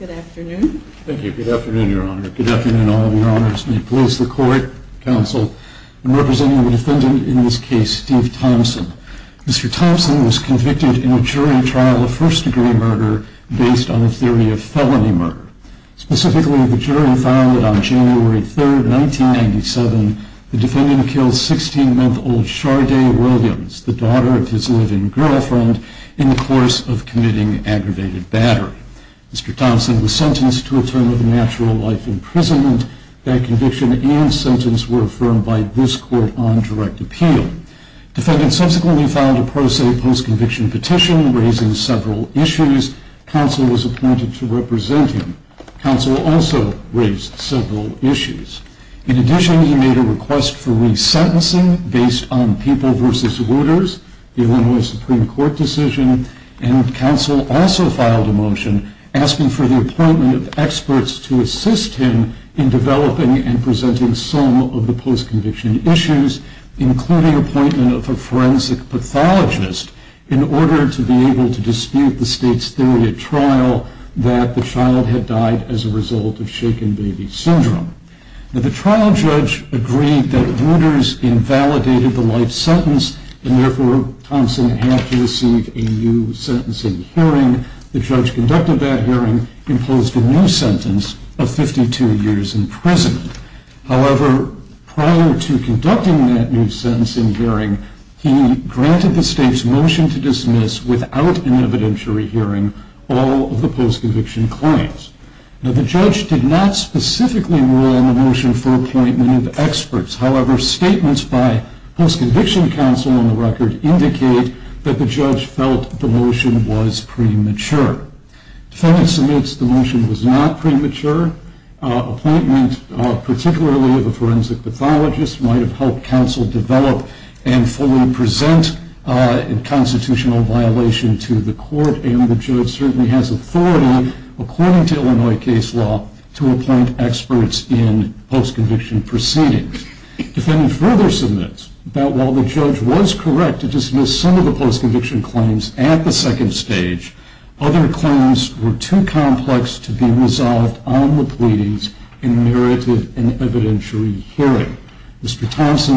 Good afternoon, Your Honor. Good afternoon, all of your honors. May it please the Court, Counsel, and representing the defendant in this case, Steve Thompson. Mr. Thompson was convicted on a theory of felony murder. Specifically, the jury found that on January 3, 1997, the defendant killed 16-month-old Shardae Williams, the daughter of his live-in girlfriend, in the course of committing aggravated battery. Mr. Thompson was sentenced to a term of natural life imprisonment. That conviction and sentence were affirmed by this Court on direct appeal. Defendant subsequently filed a pro se post-conviction petition raising several issues. Counsel was appointed to represent him. Counsel also raised several issues. In addition, he made a request for re-sentencing based on People v. Reuters, the Illinois Supreme Court decision. Counsel also filed a motion asking for the appointment of experts to assist him in developing and presenting some of the post-conviction issues, including appointment of a forensic pathologist in order to be able to dispute the state's theory at trial that the child had died as a result of shaken baby syndrome. The trial judge agreed that Reuters invalidated the life sentence and therefore Thompson had to receive a new sentencing hearing. The judge conducted that hearing and imposed a new sentence of 52 years in prison. However, prior to conducting that new sentencing hearing, he granted the state's motion to dismiss without an evidentiary hearing all of the post-conviction claims. Now, the judge did not specifically rule in the motion for appointment of experts. However, statements by post-conviction counsel on the record indicate that the judge felt the motion was premature. Defendant submits the motion was not premature. Appointment, particularly of a forensic pathologist, might have helped counsel develop and fully present a constitutional violation to the court. And the judge certainly has authority, according to Illinois case law, to appoint experts in post-conviction proceedings. Defendant further submits that while the judge was correct to dismiss some of the post-conviction claims at the second stage, other claims were too complex to be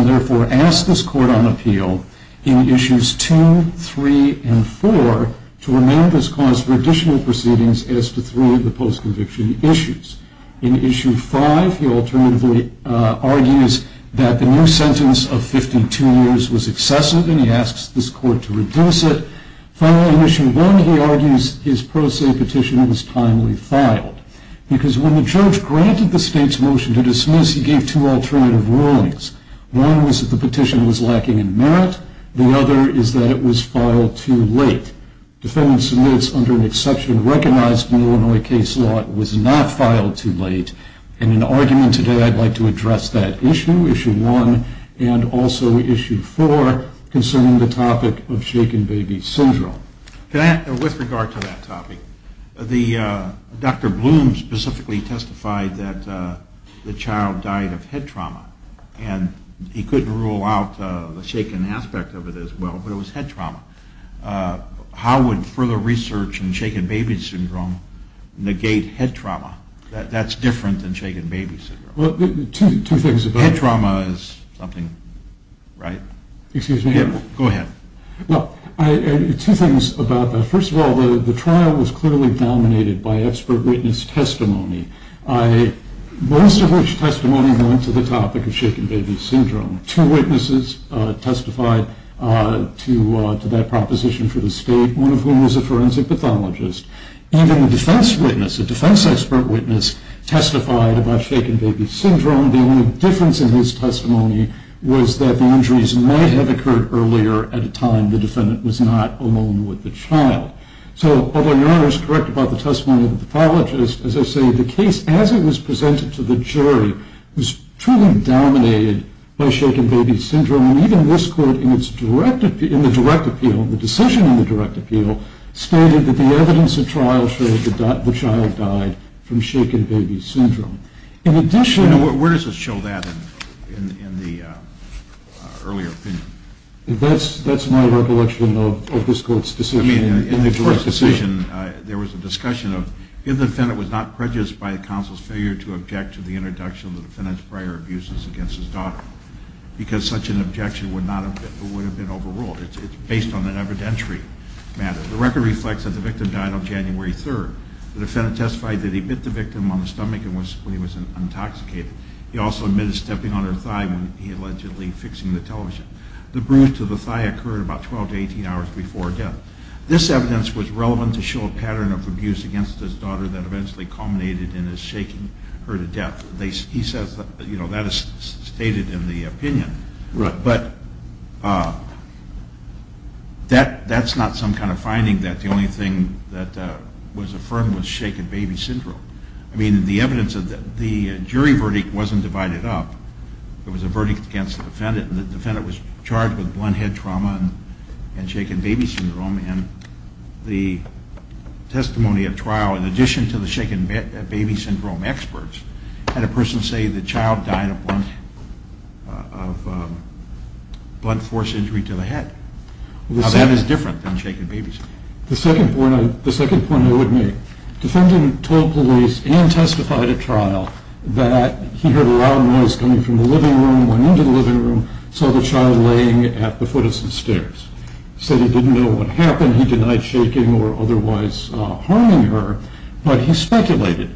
therefore asked this court on appeal in Issues 2, 3, and 4 to remain this cause for additional proceedings as to three of the post-conviction issues. In Issue 5, he alternatively argues that the new sentence of 52 years was excessive and he asks this court to reduce it. Finally, in Issue 1, he argues his pro se petition was timely filed. Because when the judge granted the state's motion to dismiss, he gave two alternative rulings. One was that the petition was lacking in merit. The other is that it was filed too late. Defendant submits, under an exception recognized in Illinois case law, it was not filed too late. In an argument today, I'd like to address that issue, Issue 1, and also Issue 4, concerning the topic of shaken baby syndrome. With regard to that topic, Dr. Bloom specifically testified that the child died of head trauma, and he couldn't rule out the shaken aspect of it as well, but it was head trauma. How would further research in shaken baby syndrome negate head trauma? That's different than shaken baby syndrome. Well, two things. Head trauma is something, right? Excuse me? Go ahead. Well, two things about that. First of all, the trial was clearly dominated by expert witness testimony, most of which testimony went to the topic of shaken baby syndrome. Two witnesses testified to that proposition for the state, one of whom was a forensic pathologist. Even a defense witness, a defense expert witness, testified about shaken baby syndrome. The only difference in his testimony was that the injuries may have occurred earlier at a time the defendant was not alone with the child. So, although your Honor is correct about the testimony of the pathologist, as I say, the case, as it was presented to the jury, was truly dominated by shaken baby syndrome, and even this court in the direct appeal, the decision in the direct appeal, stated that the evidence of trial showed the child died from shaken baby syndrome. In addition... Where does it show that in the earlier opinion? That's my recollection of this court's decision in the direct appeal. In the court's decision, there was a discussion of if the defendant was not prejudiced by counsel's failure to object to the introduction of the defendant's prior abuses against his daughter, because such an objection would have been overruled. It's based on an evidentiary matter. The record reflects that the victim died on January 3rd. The defendant testified that he bit the victim on the stomach when he was intoxicated. He also admitted stepping on her thigh when he allegedly fixing the television. The bruise to the thigh occurred about 12 to 18 hours before death. This evidence was relevant to show a pattern of abuse against his daughter that eventually culminated in his shaking her to death. He says, you know, that is stated in the opinion. Right. But that's not some kind of finding that the only thing that was affirmed was shaken baby syndrome. I mean, the evidence of the jury verdict wasn't divided up. It was a verdict against the defendant, and the defendant was charged with blunt head trauma and shaken baby syndrome. And the testimony at trial, in addition to the shaken baby syndrome experts, had a person say the child died of blunt force injury to the head. Now, that is different than shaken baby syndrome. The second point I would make. Defendant told police and testified at trial that he heard a loud noise coming from the living room, went into the living room, saw the child laying at the foot of some stairs. Said he didn't know what happened. He denied shaking or otherwise harming her, but he speculated.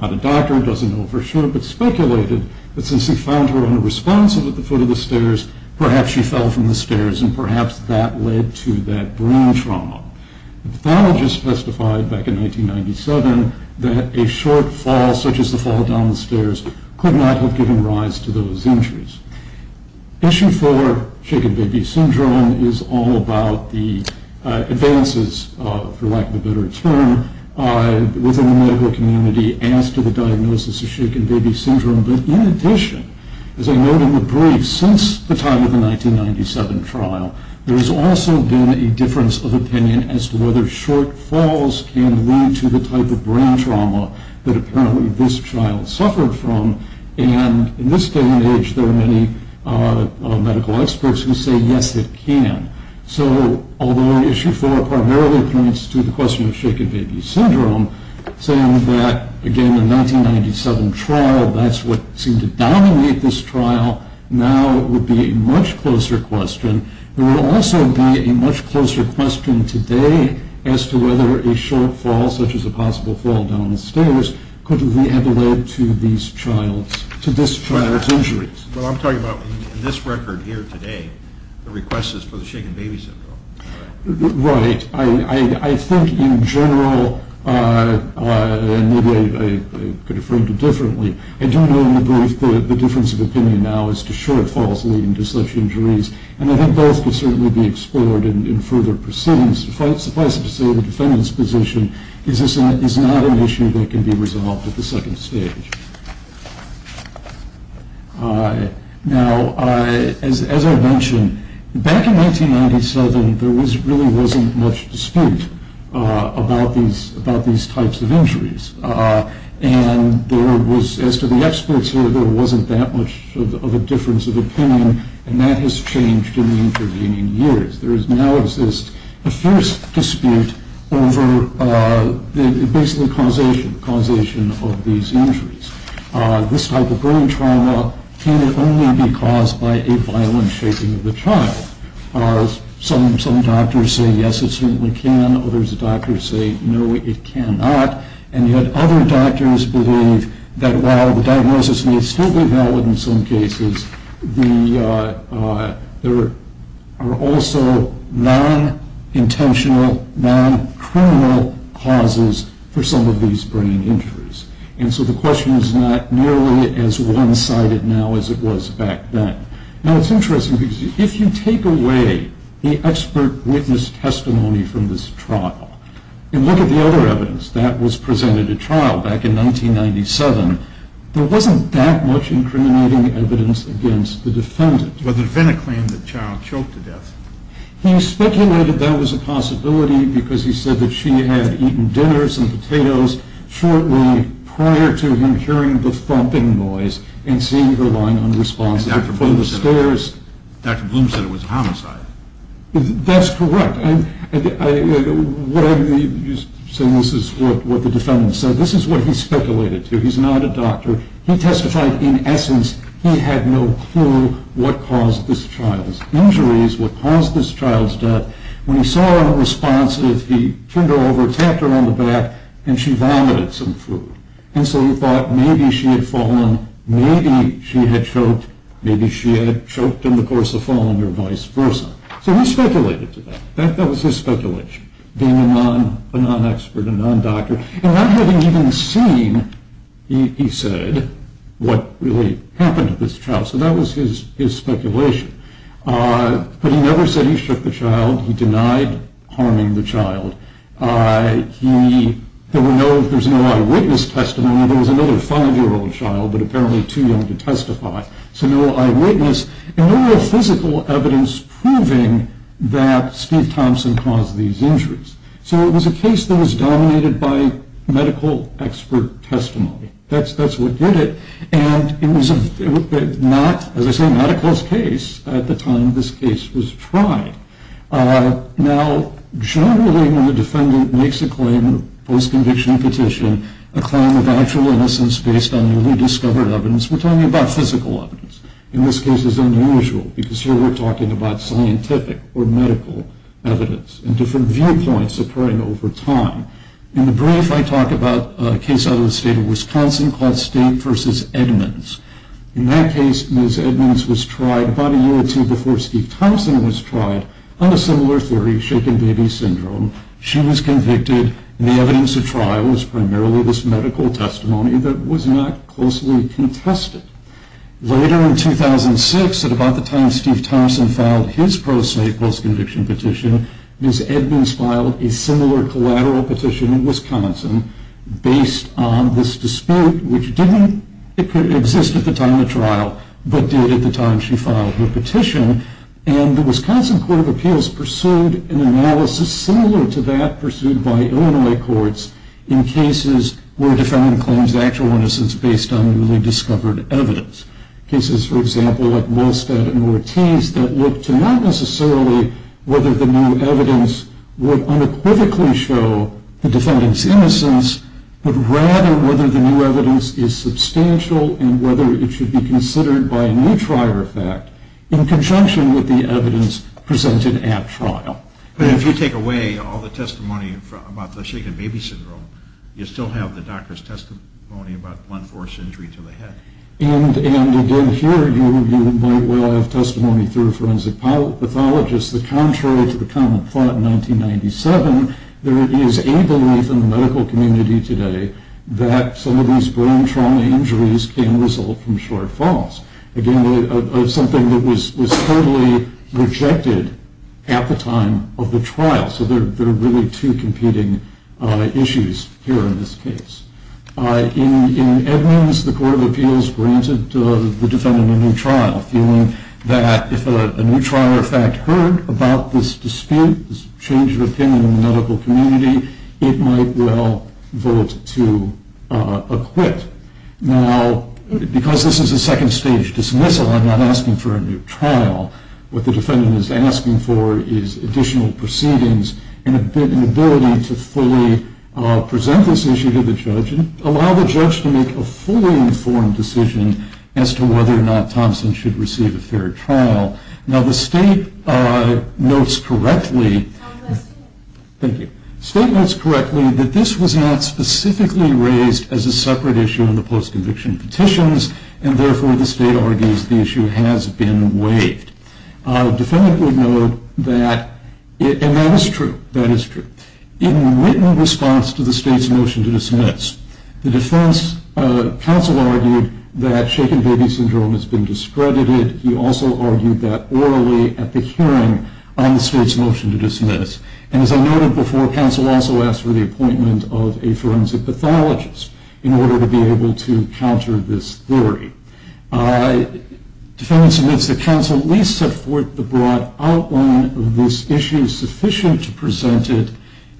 Not a doctor, doesn't know for sure, but speculated that since he found her unresponsive at the foot of the stairs, perhaps she fell from the stairs, and perhaps that led to that brain trauma. The pathologist testified back in 1997 that a short fall, such as the fall down the stairs, could not have given rise to those injuries. Issue four, shaken baby syndrome, is all about the advances, for lack of a better term, within the medical community as to the diagnosis of shaken baby syndrome. But in addition, as I note in the brief, since the time of the 1997 trial, there has also been a difference of opinion as to whether short falls can lead to the type of brain trauma that apparently this child suffered from. And in this day and age, there are many medical experts who say yes, it can. So, although issue four primarily points to the question of shaken baby syndrome, saying that, again, the 1997 trial, that's what seemed to dominate this trial, now would be a much closer question. There will also be a much closer question today as to whether a short fall, such as a possible fall down the stairs, could have led to this child's injuries. Well, I'm talking about in this record here today, the request is for the shaken baby syndrome. Right. I think in general, and maybe I could have framed it differently, I do know in the brief that the difference of opinion now is to short falls leading to such injuries, and I think both can certainly be explored in further proceedings. Suffice it to say, the defendant's position is not an issue that can be resolved at the second stage. Now, as I mentioned, back in 1997, there really wasn't much dispute about these types of injuries. And there was, as to the experts here, there wasn't that much of a difference of opinion, and that has changed in the intervening years. There now exists a fierce dispute over the basic causation of these injuries. This type of brain trauma can only be caused by a violent shaking of the child. Some doctors say yes, it certainly can. Others say no, it cannot. And yet other doctors believe that while the diagnosis may still be valid in some cases, there are also non-intentional, non-criminal causes for some of these brain injuries. And so the question is not nearly as one-sided now as it was back then. Now, it's interesting because if you take away the expert witness testimony from this trial, and look at the other evidence that was presented at trial back in 1997, there wasn't that much incriminating evidence against the defendant. Well, the defendant claimed that the child choked to death. He speculated that was a possibility because he said that she had eaten dinners and potatoes shortly prior to him hearing the thumping noise and seeing her lying unresponsive in front of the stairs. Dr. Bloom said it was a homicide. That's correct. So this is what the defendant said. This is what he speculated to. He's not a doctor. He testified in essence he had no clue what caused this child's injuries, what caused this child's death. When he saw her unresponsive, he turned her over, tapped her on the back, and she vomited some food. And so he thought maybe she had fallen, maybe she had choked, maybe she had choked in the course of falling or vice versa. So he speculated to that. That was his speculation, being a non-expert, a non-doctor, and not having even seen, he said, what really happened to this child. So that was his speculation. But he never said he shook the child. He denied harming the child. There was no eyewitness testimony. There was another five-year-old child, but apparently too young to testify, so no eyewitness, and no real physical evidence proving that Steve Thompson caused these injuries. So it was a case that was dominated by medical expert testimony. That's what did it. And it was, as I say, not a close case at the time this case was tried. Now, generally when the defendant makes a claim, a post-conviction petition, a claim of actual innocence based on newly discovered evidence, we're talking about physical evidence. In this case, it's unusual because here we're talking about scientific or medical evidence and different viewpoints occurring over time. In the brief, I talk about a case out of the state of Wisconsin called State v. Edmonds. In that case, Ms. Edmonds was tried about a year or two before Steve Thompson was tried on a similar theory, shaken baby syndrome. She was convicted, and the evidence at trial was primarily this medical testimony that was not closely contested. Later in 2006, at about the time Steve Thompson filed his pro se post-conviction petition, Ms. Edmonds filed a similar collateral petition in Wisconsin based on this dispute, which didn't exist at the time of trial, but did at the time she filed her petition. And the Wisconsin Court of Appeals pursued an analysis similar to that pursued by Illinois courts in cases where a defendant claims actual innocence based on newly discovered evidence. Cases, for example, like Wohlstadt and Ortiz that looked to not necessarily whether the new evidence would unequivocally show the defendant's innocence, but rather whether the new evidence is substantial and whether it should be considered by a new trial effect. In conjunction with the evidence presented at trial. But if you take away all the testimony about the shaken baby syndrome, you still have the doctor's testimony about blunt force injury to the head. And again, here you might well have testimony through a forensic pathologist that contrary to the common thought in 1997, there is a belief in the medical community today that some of these brain trauma injuries can result from short falls. Again, something that was totally rejected at the time of the trial. So there are really two competing issues here in this case. In Edmonds, the Court of Appeals granted the defendant a new trial, feeling that if a new trial in fact heard about this dispute, this change of opinion in the medical community, it might well vote to acquit. Now, because this is a second stage dismissal, I'm not asking for a new trial. What the defendant is asking for is additional proceedings and an ability to fully present this issue to the judge and allow the judge to make a fully informed decision as to whether or not Thompson should receive a fair trial. Now, the state notes correctly that this was not specifically raised as a separate issue in the post-conviction petitions, and therefore the state argues the issue has been waived. The defendant would note that, and that is true, that is true. In written response to the state's motion to dismiss, the defense counsel argued that shaken baby syndrome has been discredited. He also argued that orally at the hearing on the state's motion to dismiss. And as I noted before, counsel also asked for the appointment of a forensic pathologist in order to be able to counter this theory. Defendants admits that counsel at least set forth the broad outline of this issue sufficient to present it.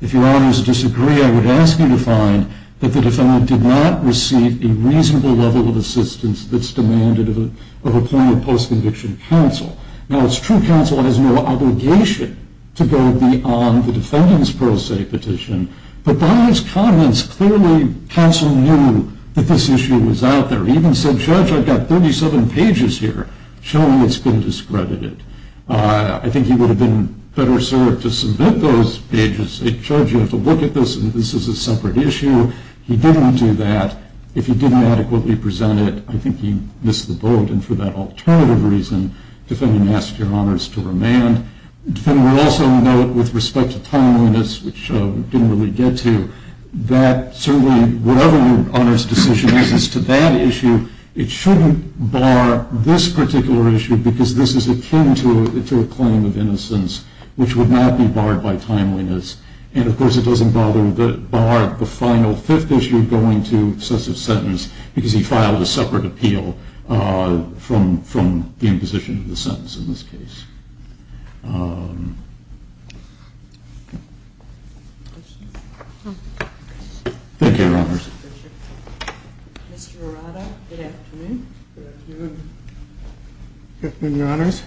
If your honors disagree, I would ask you to find that the defendant did not receive a reasonable level of assistance that's demanded of appointed post-conviction counsel. Now, it's true counsel has no obligation to go beyond the defendant's pro se petition, but by his comments, clearly counsel knew that this issue was out there. He even said, Judge, I've got 37 pages here showing it's been discredited. I think he would have been better served to submit those pages and say, Judge, you have to look at this and this is a separate issue. He didn't do that. If he didn't adequately present it, I think he missed the boat, and for that alternative reason, defendant asked your honors to remand. Defendant would also note with respect to timeliness, which we didn't really get to, that certainly whatever your honors' decision is as to that issue, it shouldn't bar this particular issue because this is akin to a claim of innocence, which would not be barred by timeliness. And of course, it doesn't bother to bar the final fifth issue going to excessive sentence because he filed a separate appeal from the imposition of the sentence in this case. Thank you, your honors. Mr. Arado, good afternoon. Good afternoon. Good afternoon, your honors.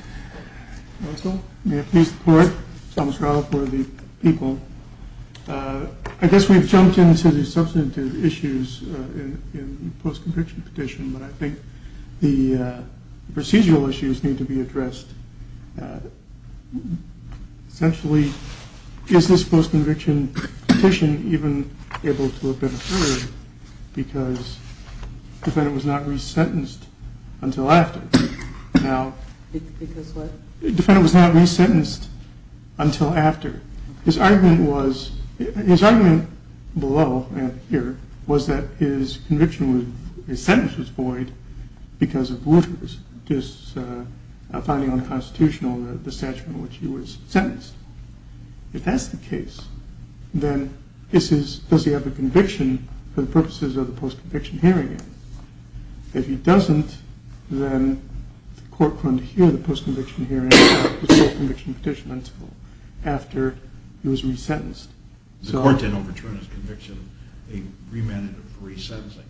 Counsel, may I please report. Thomas Arado for the people. I guess we've jumped into the substantive issues in the post-conviction petition, but I think the procedural issues need to be addressed. Essentially, is this post-conviction petition even able to have been heard because defendant was not resentenced until after? Because what? Defendant was not resentenced until after. His argument below here was that his conviction, his sentence was void because of finding unconstitutional the statute in which he was sentenced. If that's the case, then does he have a conviction for the purposes of the post-conviction hearing? If he doesn't, then the court couldn't hear the post-conviction hearing until after he was resentenced. The court then overturned his conviction. They remanded a free sentencing,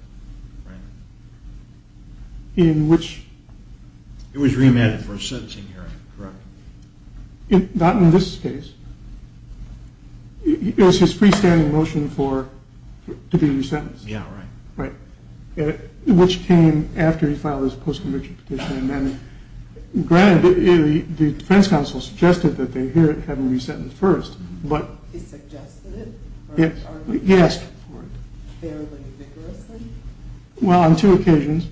right? In which? It was remanded for a sentencing hearing, correct? Not in this case. It was his freestanding motion to be resentenced. Yeah, right. Which came after he filed his post-conviction petition. Granted, the defense counsel suggested that they hear it having been sentenced first. He suggested it? Yes. Fairly vigorously? Well, on two occasions.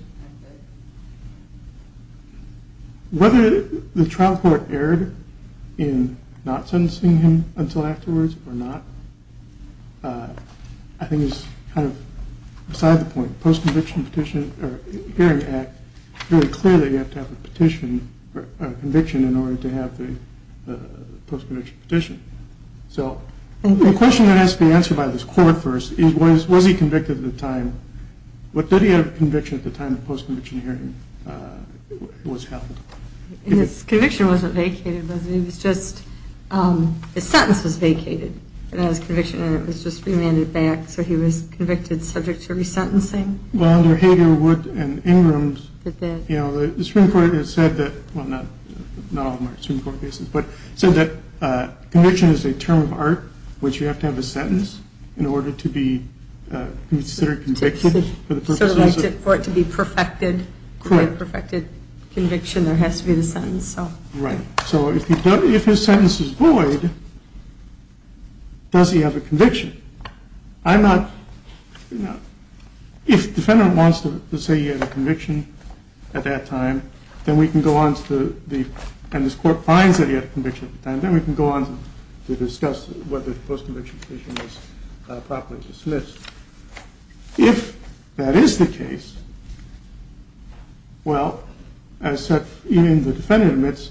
Whether the trial court erred in not sentencing him until afterwards or not, I think is kind of beside the point. The post-conviction hearing act is really clear that you have to have a conviction in order to have the post-conviction petition. The question that has to be answered by this court first is, was he convicted at the time? Did he have a conviction at the time the post-conviction hearing was held? His conviction wasn't vacated, was it? His sentence was vacated. It had his conviction in it. It was just remanded back. So he was convicted subject to resentencing? Well, under Hager, Wood, and Ingram, the Supreme Court has said that, well, not all of them are Supreme Court cases, but said that conviction is a term of art, which you have to have a sentence in order to be considered convicted. So for it to be perfected, quite a perfected conviction, there has to be the sentence. Right. So if his sentence is void, does he have a conviction? I'm not, you know, if the defendant wants to say he had a conviction at that time, then we can go on to the, and this court finds that he had a conviction at the time, then we can go on to discuss whether the post-conviction petition was properly dismissed. If that is the case, well, as the defendant admits,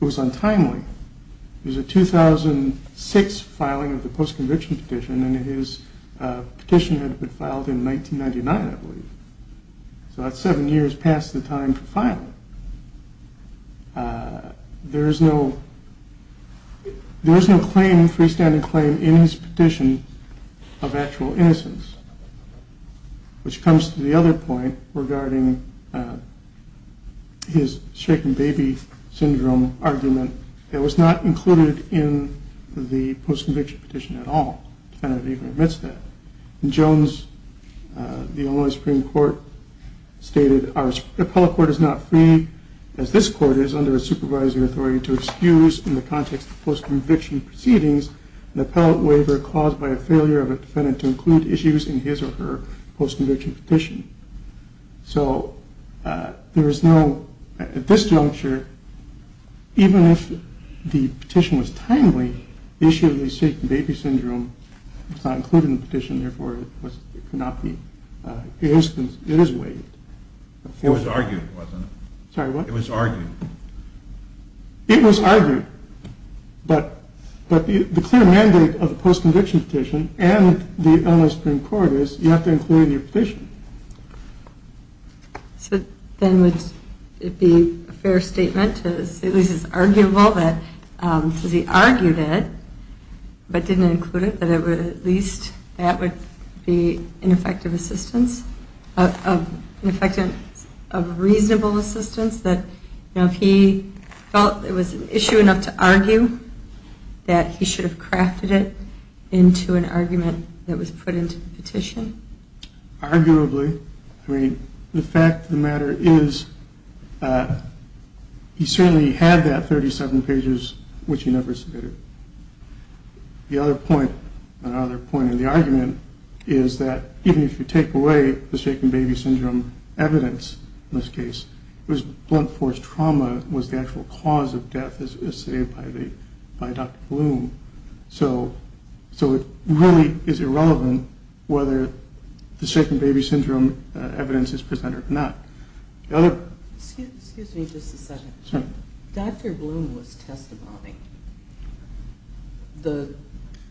it was untimely. It was a 2006 filing of the post-conviction petition, and his petition had been filed in 1999, I believe. So that's seven years past the time for filing. There is no claim, freestanding claim, in his petition of actual innocence, which comes to the other point regarding his shaken baby syndrome argument that was not included in the post-conviction petition at all. The defendant even admits that. Jones, the Illinois Supreme Court, stated our appellate court is not free, as this court is, under its supervisory authority to excuse, in the context of post-conviction proceedings, an appellate waiver caused by a failure of a defendant to include issues in his or her post-conviction petition. So there is no, at this juncture, even if the petition was timely, the issue of the shaken baby syndrome was not included in the petition, therefore it cannot be, it is waived. It was argued, wasn't it? Sorry, what? It was argued. It was argued, but the clear mandate of the post-conviction petition and the Illinois Supreme Court is you have to include it in your petition. So then would it be a fair statement to say, at least it's arguable that because he argued it, but didn't include it, that at least that would be an effective assistance, an effective, a reasonable assistance, that if he felt it was an issue enough to argue, that he should have crafted it into an argument that was put into the petition? Arguably. I mean, the fact of the matter is he certainly had that 37 pages, which he never submitted. The other point, another point in the argument, is that even if you take away the shaken baby syndrome evidence in this case, it was blunt force trauma was the actual cause of death as stated by Dr. Bloom. So it really is irrelevant whether the shaken baby syndrome evidence is presented or not. Excuse me just a second. Dr. Bloom was testimony.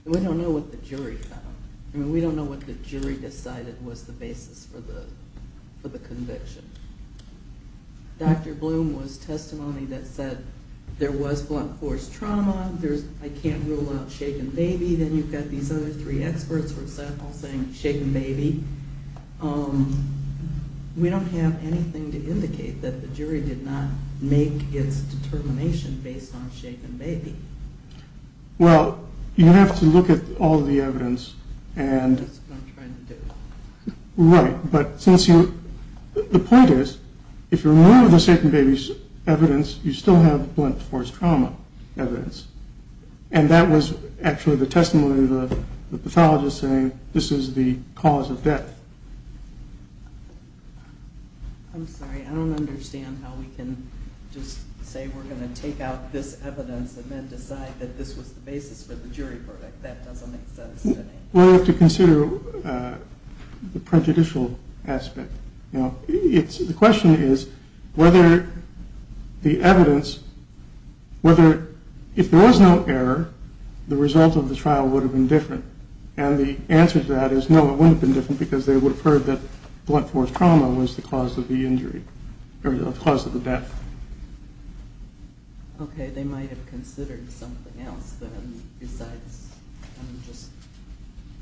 We don't know what the jury found. I mean, we don't know what the jury decided was the basis for the conviction. Dr. Bloom was testimony that said there was blunt force trauma. There's I can't rule out shaken baby. Then you've got these other three experts for example saying shaken baby. We don't have anything to indicate that the jury did not make its determination based on shaken baby. Well, you have to look at all the evidence. That's what I'm trying to do. Right. But the point is, if you're aware of the shaken baby evidence, you still have blunt force trauma evidence. And that was actually the testimony of the pathologist saying this is the cause of death. I'm sorry. I don't understand how we can just say we're going to take out this evidence and then decide that this was the basis for the jury verdict. That doesn't make sense to me. We'll have to consider the prejudicial aspect. The question is whether the evidence, if there was no error, the result of the trial would have been different. And the answer to that is no, it wouldn't have been different because they would have heard that blunt force trauma was the cause of the injury or the cause of the death. Okay. They might have considered something else besides just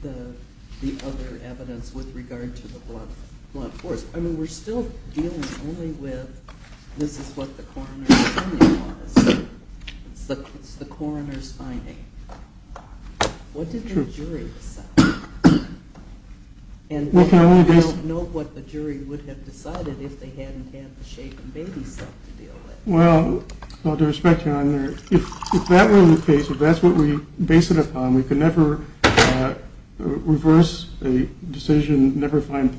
the other evidence with regard to the blunt force. I mean, we're still dealing only with this is what the coroner's finding was. It's the coroner's finding. What did the jury decide? And we don't know what the jury would have decided if they hadn't had the shaken baby stuff to deal with. Well, with all due respect, Your Honor, if that were the case, if that's what we base it upon, we could never reverse a decision, never find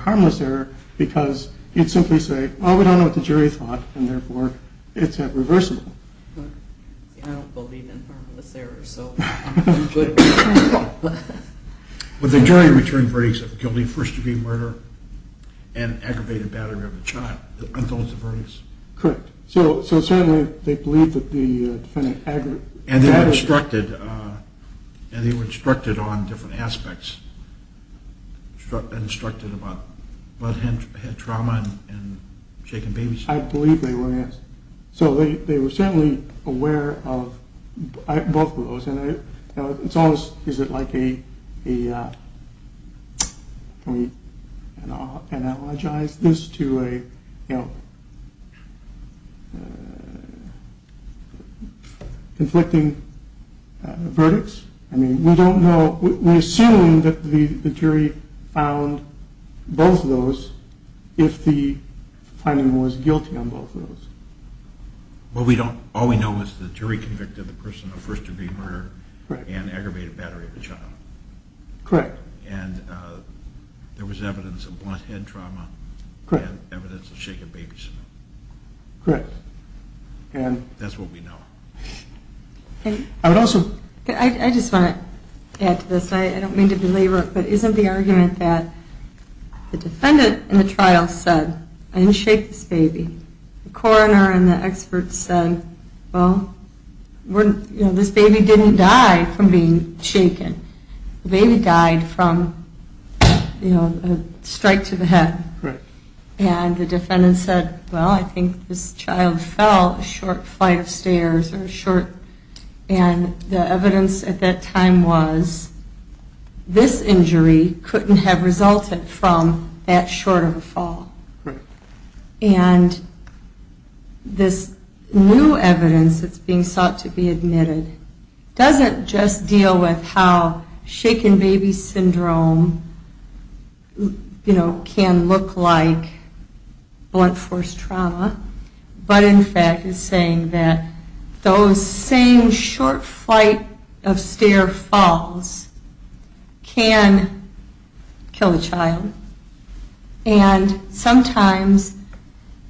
harmless error, because you'd simply say, well, we don't know what the jury thought, and therefore it's not reversible. I don't believe in harmless error. Would the jury return verdicts of guilty first-degree murder and aggravated battery of the child? Correct. So certainly they believe that the defendant aggravated... And they were instructed on different aspects. They were instructed about bloodhead trauma and shaken baby stuff. I believe they were, yes. Is it like a... Can we analogize this to a conflicting verdict? I mean, we don't know. We're assuming that the jury found both of those if the finding was guilty on both of those. Well, all we know is the jury convicted the person of first-degree murder and aggravated battery of the child. Correct. And there was evidence of bloodhead trauma and evidence of shaken baby stuff. Correct. And that's what we know. I would also... I just want to add to this. I don't mean to belabor it, but isn't the argument that the defendant in the trial said, I didn't shake this baby. The coroner and the experts said, well, this baby didn't die from being shaken. The baby died from a strike to the head. Correct. And the defendant said, well, I think this child fell a short flight of stairs or short... And the evidence at that time was this injury couldn't have resulted from that short of a fall. Correct. And this new evidence that's being sought to be admitted doesn't just deal with how shaken baby syndrome, you know, can look like blunt force trauma, but in fact is saying that those same short flight of stair falls can kill a child. And sometimes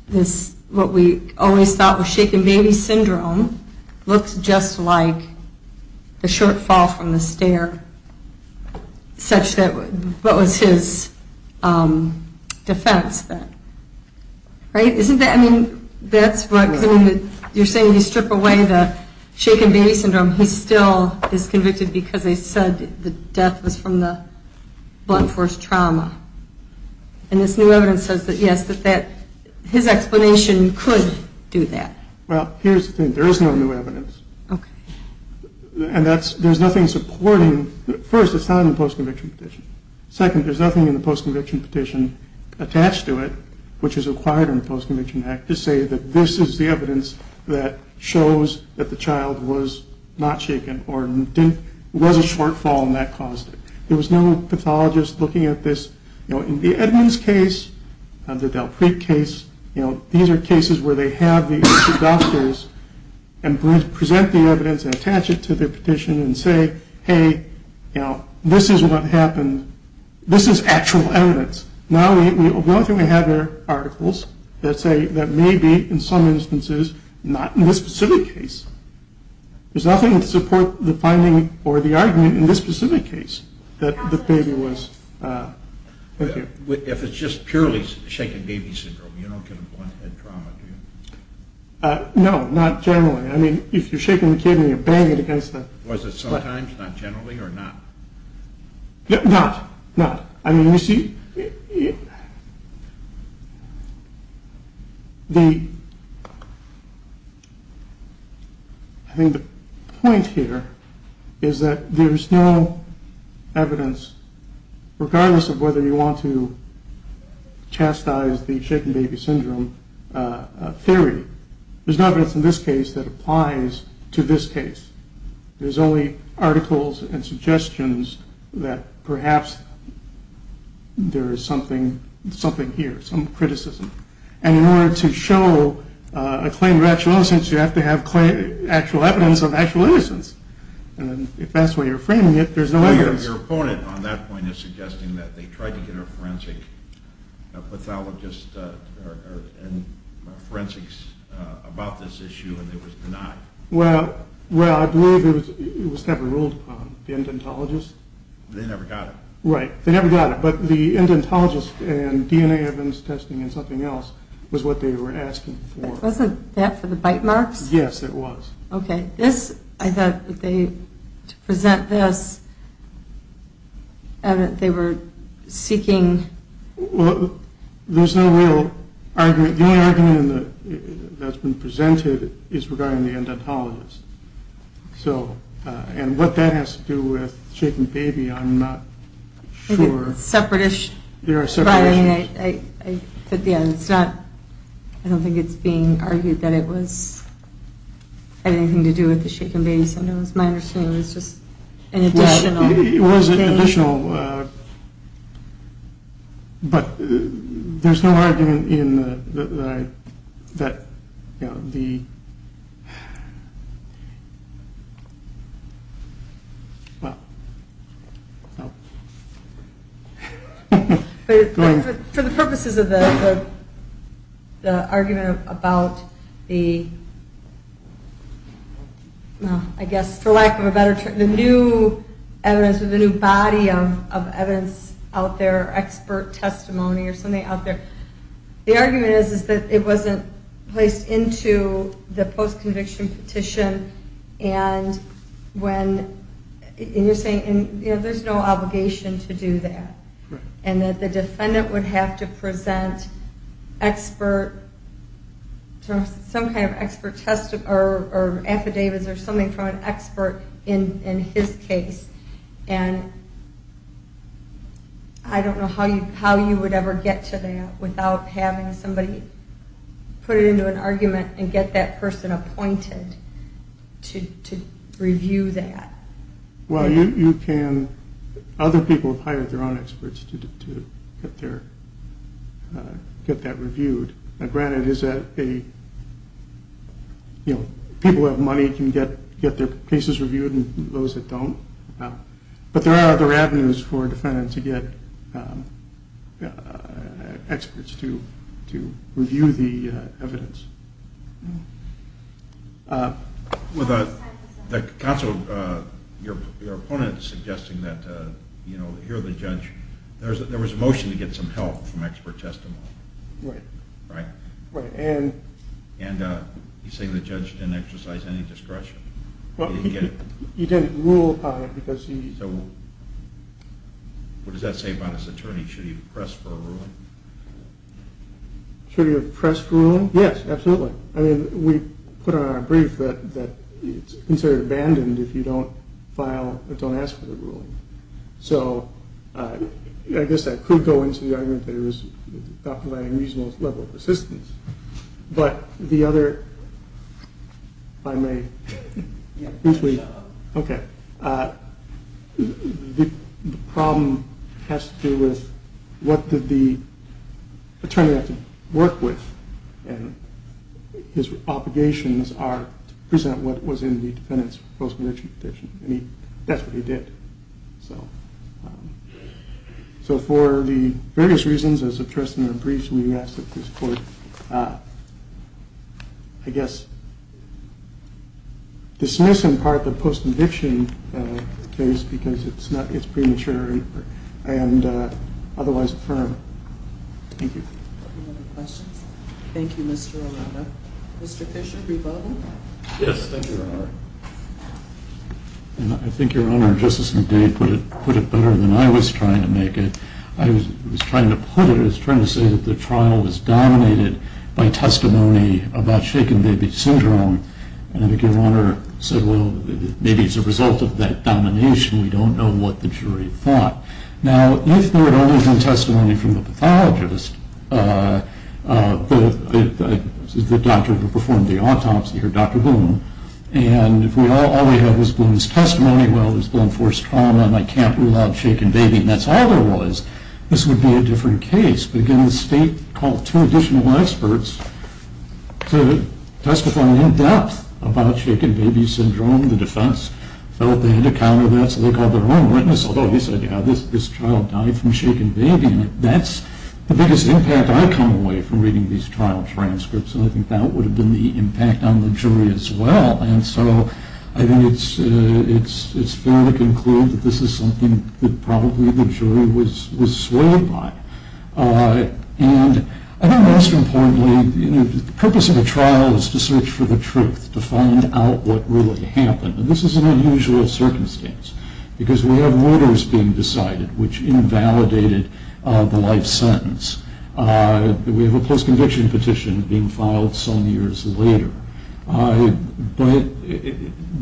this, what we always thought was shaken baby syndrome, looks just like the short fall from the stair, such that what was his defense then. Right? Isn't that... I mean, that's what... You're saying you strip away the shaken baby syndrome. He still is convicted because they said the death was from the blunt force trauma. And this new evidence says that, yes, that his explanation could do that. Well, here's the thing. There is no new evidence. Okay. And there's nothing supporting... First, it's not in the post-conviction petition. Second, there's nothing in the post-conviction petition attached to it, which is required in the Post-Conviction Act, to say that this is the evidence that shows that the child was not shaken or was a short fall and that caused it. There was no pathologist looking at this. You know, in the Edmonds case, the Dalpreet case, you know, these are cases where they have the doctors and present the evidence and attach it to their petition and say, hey, you know, this is what happened. This is actual evidence. Now the only thing we have are articles that say that maybe, in some instances, not in this specific case. There's nothing to support the finding or the argument in this specific case that the baby was... Thank you. If it's just purely shaken baby syndrome, you don't get a blunt head trauma, do you? No, not generally. I mean, if you're shaking the kid and you bang it against the... Was it sometimes, not generally, or not? Not. Not. I mean, you see... I think the point here is that there's no evidence, regardless of whether you want to chastise the shaken baby syndrome theory, there's no evidence in this case that applies to this case. There's only articles and suggestions that perhaps there is something here, some criticism. And in order to show a claim of actual innocence, you have to have actual evidence of actual innocence. And if that's the way you're framing it, there's no evidence. Your opponent on that point is suggesting that they tried to get a forensic pathologist and forensics about this issue and it was denied. Well, I believe it was heavily ruled upon, the endontologist. They never got it. Right. They never got it. But the endontologist and DNA evidence testing and something else was what they were asking for. Wasn't that for the bite marks? Yes, it was. Okay. This, I thought that they, to present this, they were seeking... Well, there's no real argument. The only argument that's been presented is regarding the endontologist. And what that has to do with the shaken baby, I'm not sure. I think it's separatist. There are separatists. But, yeah, it's not, I don't think it's being argued that it was, had anything to do with the shaken baby syndrome. It's my understanding it was just an additional. It was an additional. But there's no argument in the, that, you know, the... For the purposes of the argument about the, I guess, for lack of a better term, the new evidence, the new body of evidence out there, expert testimony or something out there, the argument is that it wasn't placed into the post-conviction petition. And when, and you're saying, you know, there's no obligation to do that. And that the defendant would have to present expert, some kind of expert test, or affidavits, or something from an expert in his case. And I don't know how you would ever get to that without having somebody put it into an argument and get that person appointed to review that. Well, you can, other people have hired their own experts to get that reviewed. Granted, is that a, you know, people who have money can get their cases reviewed and those that don't. But there are other avenues for a defendant to get experts to review the evidence. The counsel, your opponent is suggesting that, you know, here the judge, there was a motion to get some help from expert testimony. Right. Right. Right, and? And he's saying the judge didn't exercise any discretion. Well, he didn't rule on it because he. So what does that say about his attorney? Should he have pressed for a ruling? Should he have pressed for a ruling? Yes, absolutely. I mean, we put on our brief that it's considered abandoned if you don't file, if you don't ask for the ruling. So I guess I could go into the argument that it was Dr. Lange's reasonable level of assistance. But the other, if I may, briefly. Yeah, go ahead. Okay. The problem has to do with what did the attorney have to work with? And his obligations are to present what was in the defendant's postmortem petition. I mean, that's what he did. So for the various reasons, as addressed in our briefs, we ask that this court, I guess, dismiss in part the post-conviction case because it's premature and otherwise firm. Thank you. Any other questions? Thank you, Mr. Aranda. Mr. Fisher, brief other? Yes, thank you, Your Honor. And I think Your Honor, just as he put it better than I was trying to make it, I was trying to put it as trying to say that the trial was dominated by testimony about shaken baby syndrome. And I think Your Honor said, well, maybe it's a result of that domination. We don't know what the jury thought. Now, if there had only been testimony from the pathologist, the doctor who performed the autopsy, or Dr. Boone, and if all we have is Boone's testimony, well, there's blunt force trauma and I can't rule out shaken baby, and that's all there was, this would be a different case. But again, the State called two additional experts to testify in depth about shaken baby syndrome. The defense felt they had to counter that, so they called their own witness, although he said, yeah, this child died from shaken baby, and that's the biggest impact I come away from reading these trial transcripts. And I think that would have been the impact on the jury as well. And so I think it's fair to conclude that this is something that probably the jury was swayed by. And I think most importantly, the purpose of a trial is to search for the truth, to find out what really happened. And this is an unusual circumstance because we have orders being decided which invalidated the life sentence. We have a post-conviction petition being filed some years later. But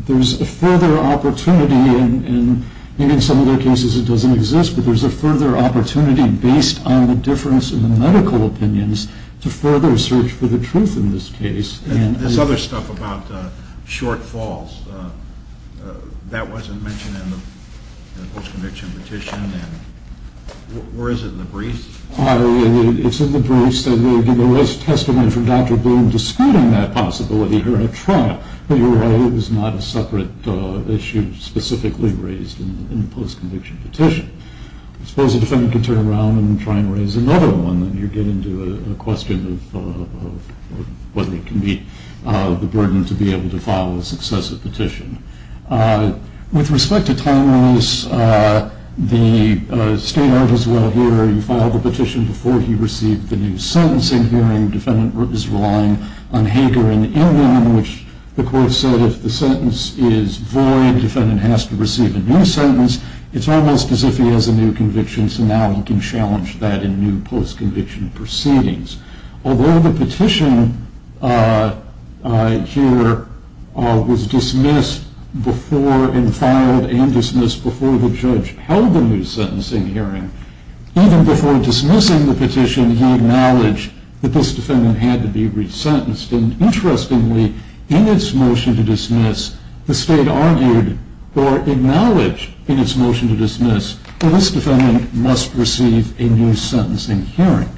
there's a further opportunity, and in some of the cases it doesn't exist, but there's a further opportunity based on the difference in the medical opinions to further search for the truth in this case. And this other stuff about shortfalls, that wasn't mentioned in the post-conviction petition, or is it in the briefs? It's in the briefs. There was a testament from Dr. Boone disputing that possibility here at trial. But you're right, it was not a separate issue specifically raised in the post-conviction petition. I suppose a defendant can turn around and try and raise another one, and you get into a question of whether it can be the burden to be able to file a successive petition. With respect to time release, the state art as well here, you file the petition before he received the new sentencing hearing. The defendant is relying on Hager and Ingram, which the court said if the sentence is void, the defendant has to receive a new sentence. It's almost as if he has a new conviction, so now he can challenge that in new post-conviction proceedings. Although the petition here was dismissed before and filed and dismissed before the judge held the new sentencing hearing, even before dismissing the petition, he acknowledged that this defendant had to be resentenced. And interestingly, in its motion to dismiss, the state argued or acknowledged in its motion to dismiss that this defendant must receive a new sentencing hearing.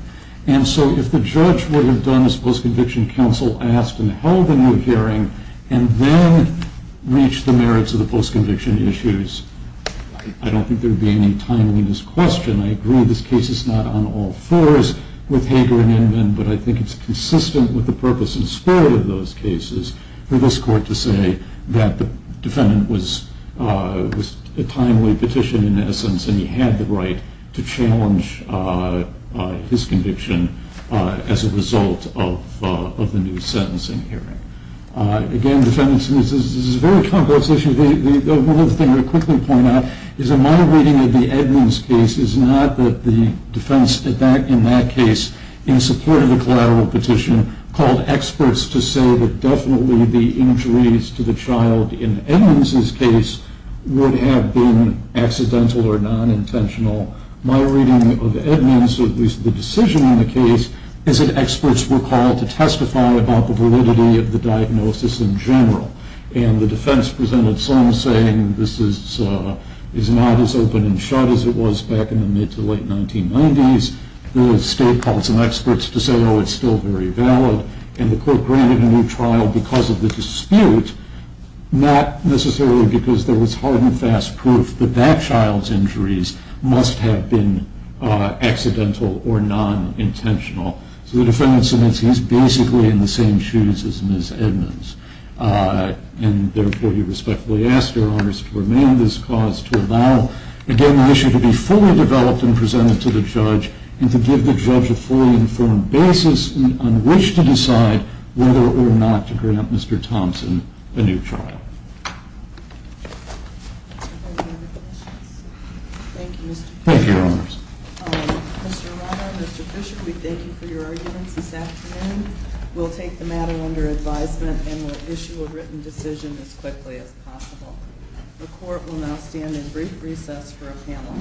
And so if the judge would have done as post-conviction counsel asked and held the new hearing and then reached the merits of the post-conviction issues, I don't think there would be any timeliness question. I agree this case is not on all fours with Hager and Ingram, but I think it's consistent with the purpose and spirit of those cases for this court to say that the defendant was a timely petition in essence and he had the right to challenge his conviction as a result of the new sentencing hearing. Again, defendants, this is a very complex issue. One other thing I'll quickly point out is in my reading of the Edmonds case is not that the defense in that case, in support of the collateral petition, called experts to say that definitely the injuries to the child in Edmonds' case would have been accidental or non-intentional. My reading of Edmonds, at least the decision in the case, is that experts were called to testify about the validity of the diagnosis in general. And the defense presented some saying this is not as open and shut as it was back in the mid- to late-1990s. The state called some experts to say, oh, it's still very valid. And the court granted a new trial because of the dispute, not necessarily because there was hard and fast proof that that child's injuries must have been accidental or non-intentional. So the defendant submits he's basically in the same shoes as Ms. Edmonds. And, therefore, we respectfully ask Your Honors to remain in this cause to allow, again, the issue to be fully developed and presented to the judge and to give the judge a fully informed basis on which to decide whether or not to grant Mr. Thompson a new trial. Are there any other questions? Thank you, Mr. Bishop. Thank you, Your Honors. Mr. Robert, Mr. Bishop, we thank you for your arguments this afternoon. We'll take the matter under advisement and we'll issue a written decision as quickly as possible. The court will now stand in brief recess for a panel change. Court is in recess.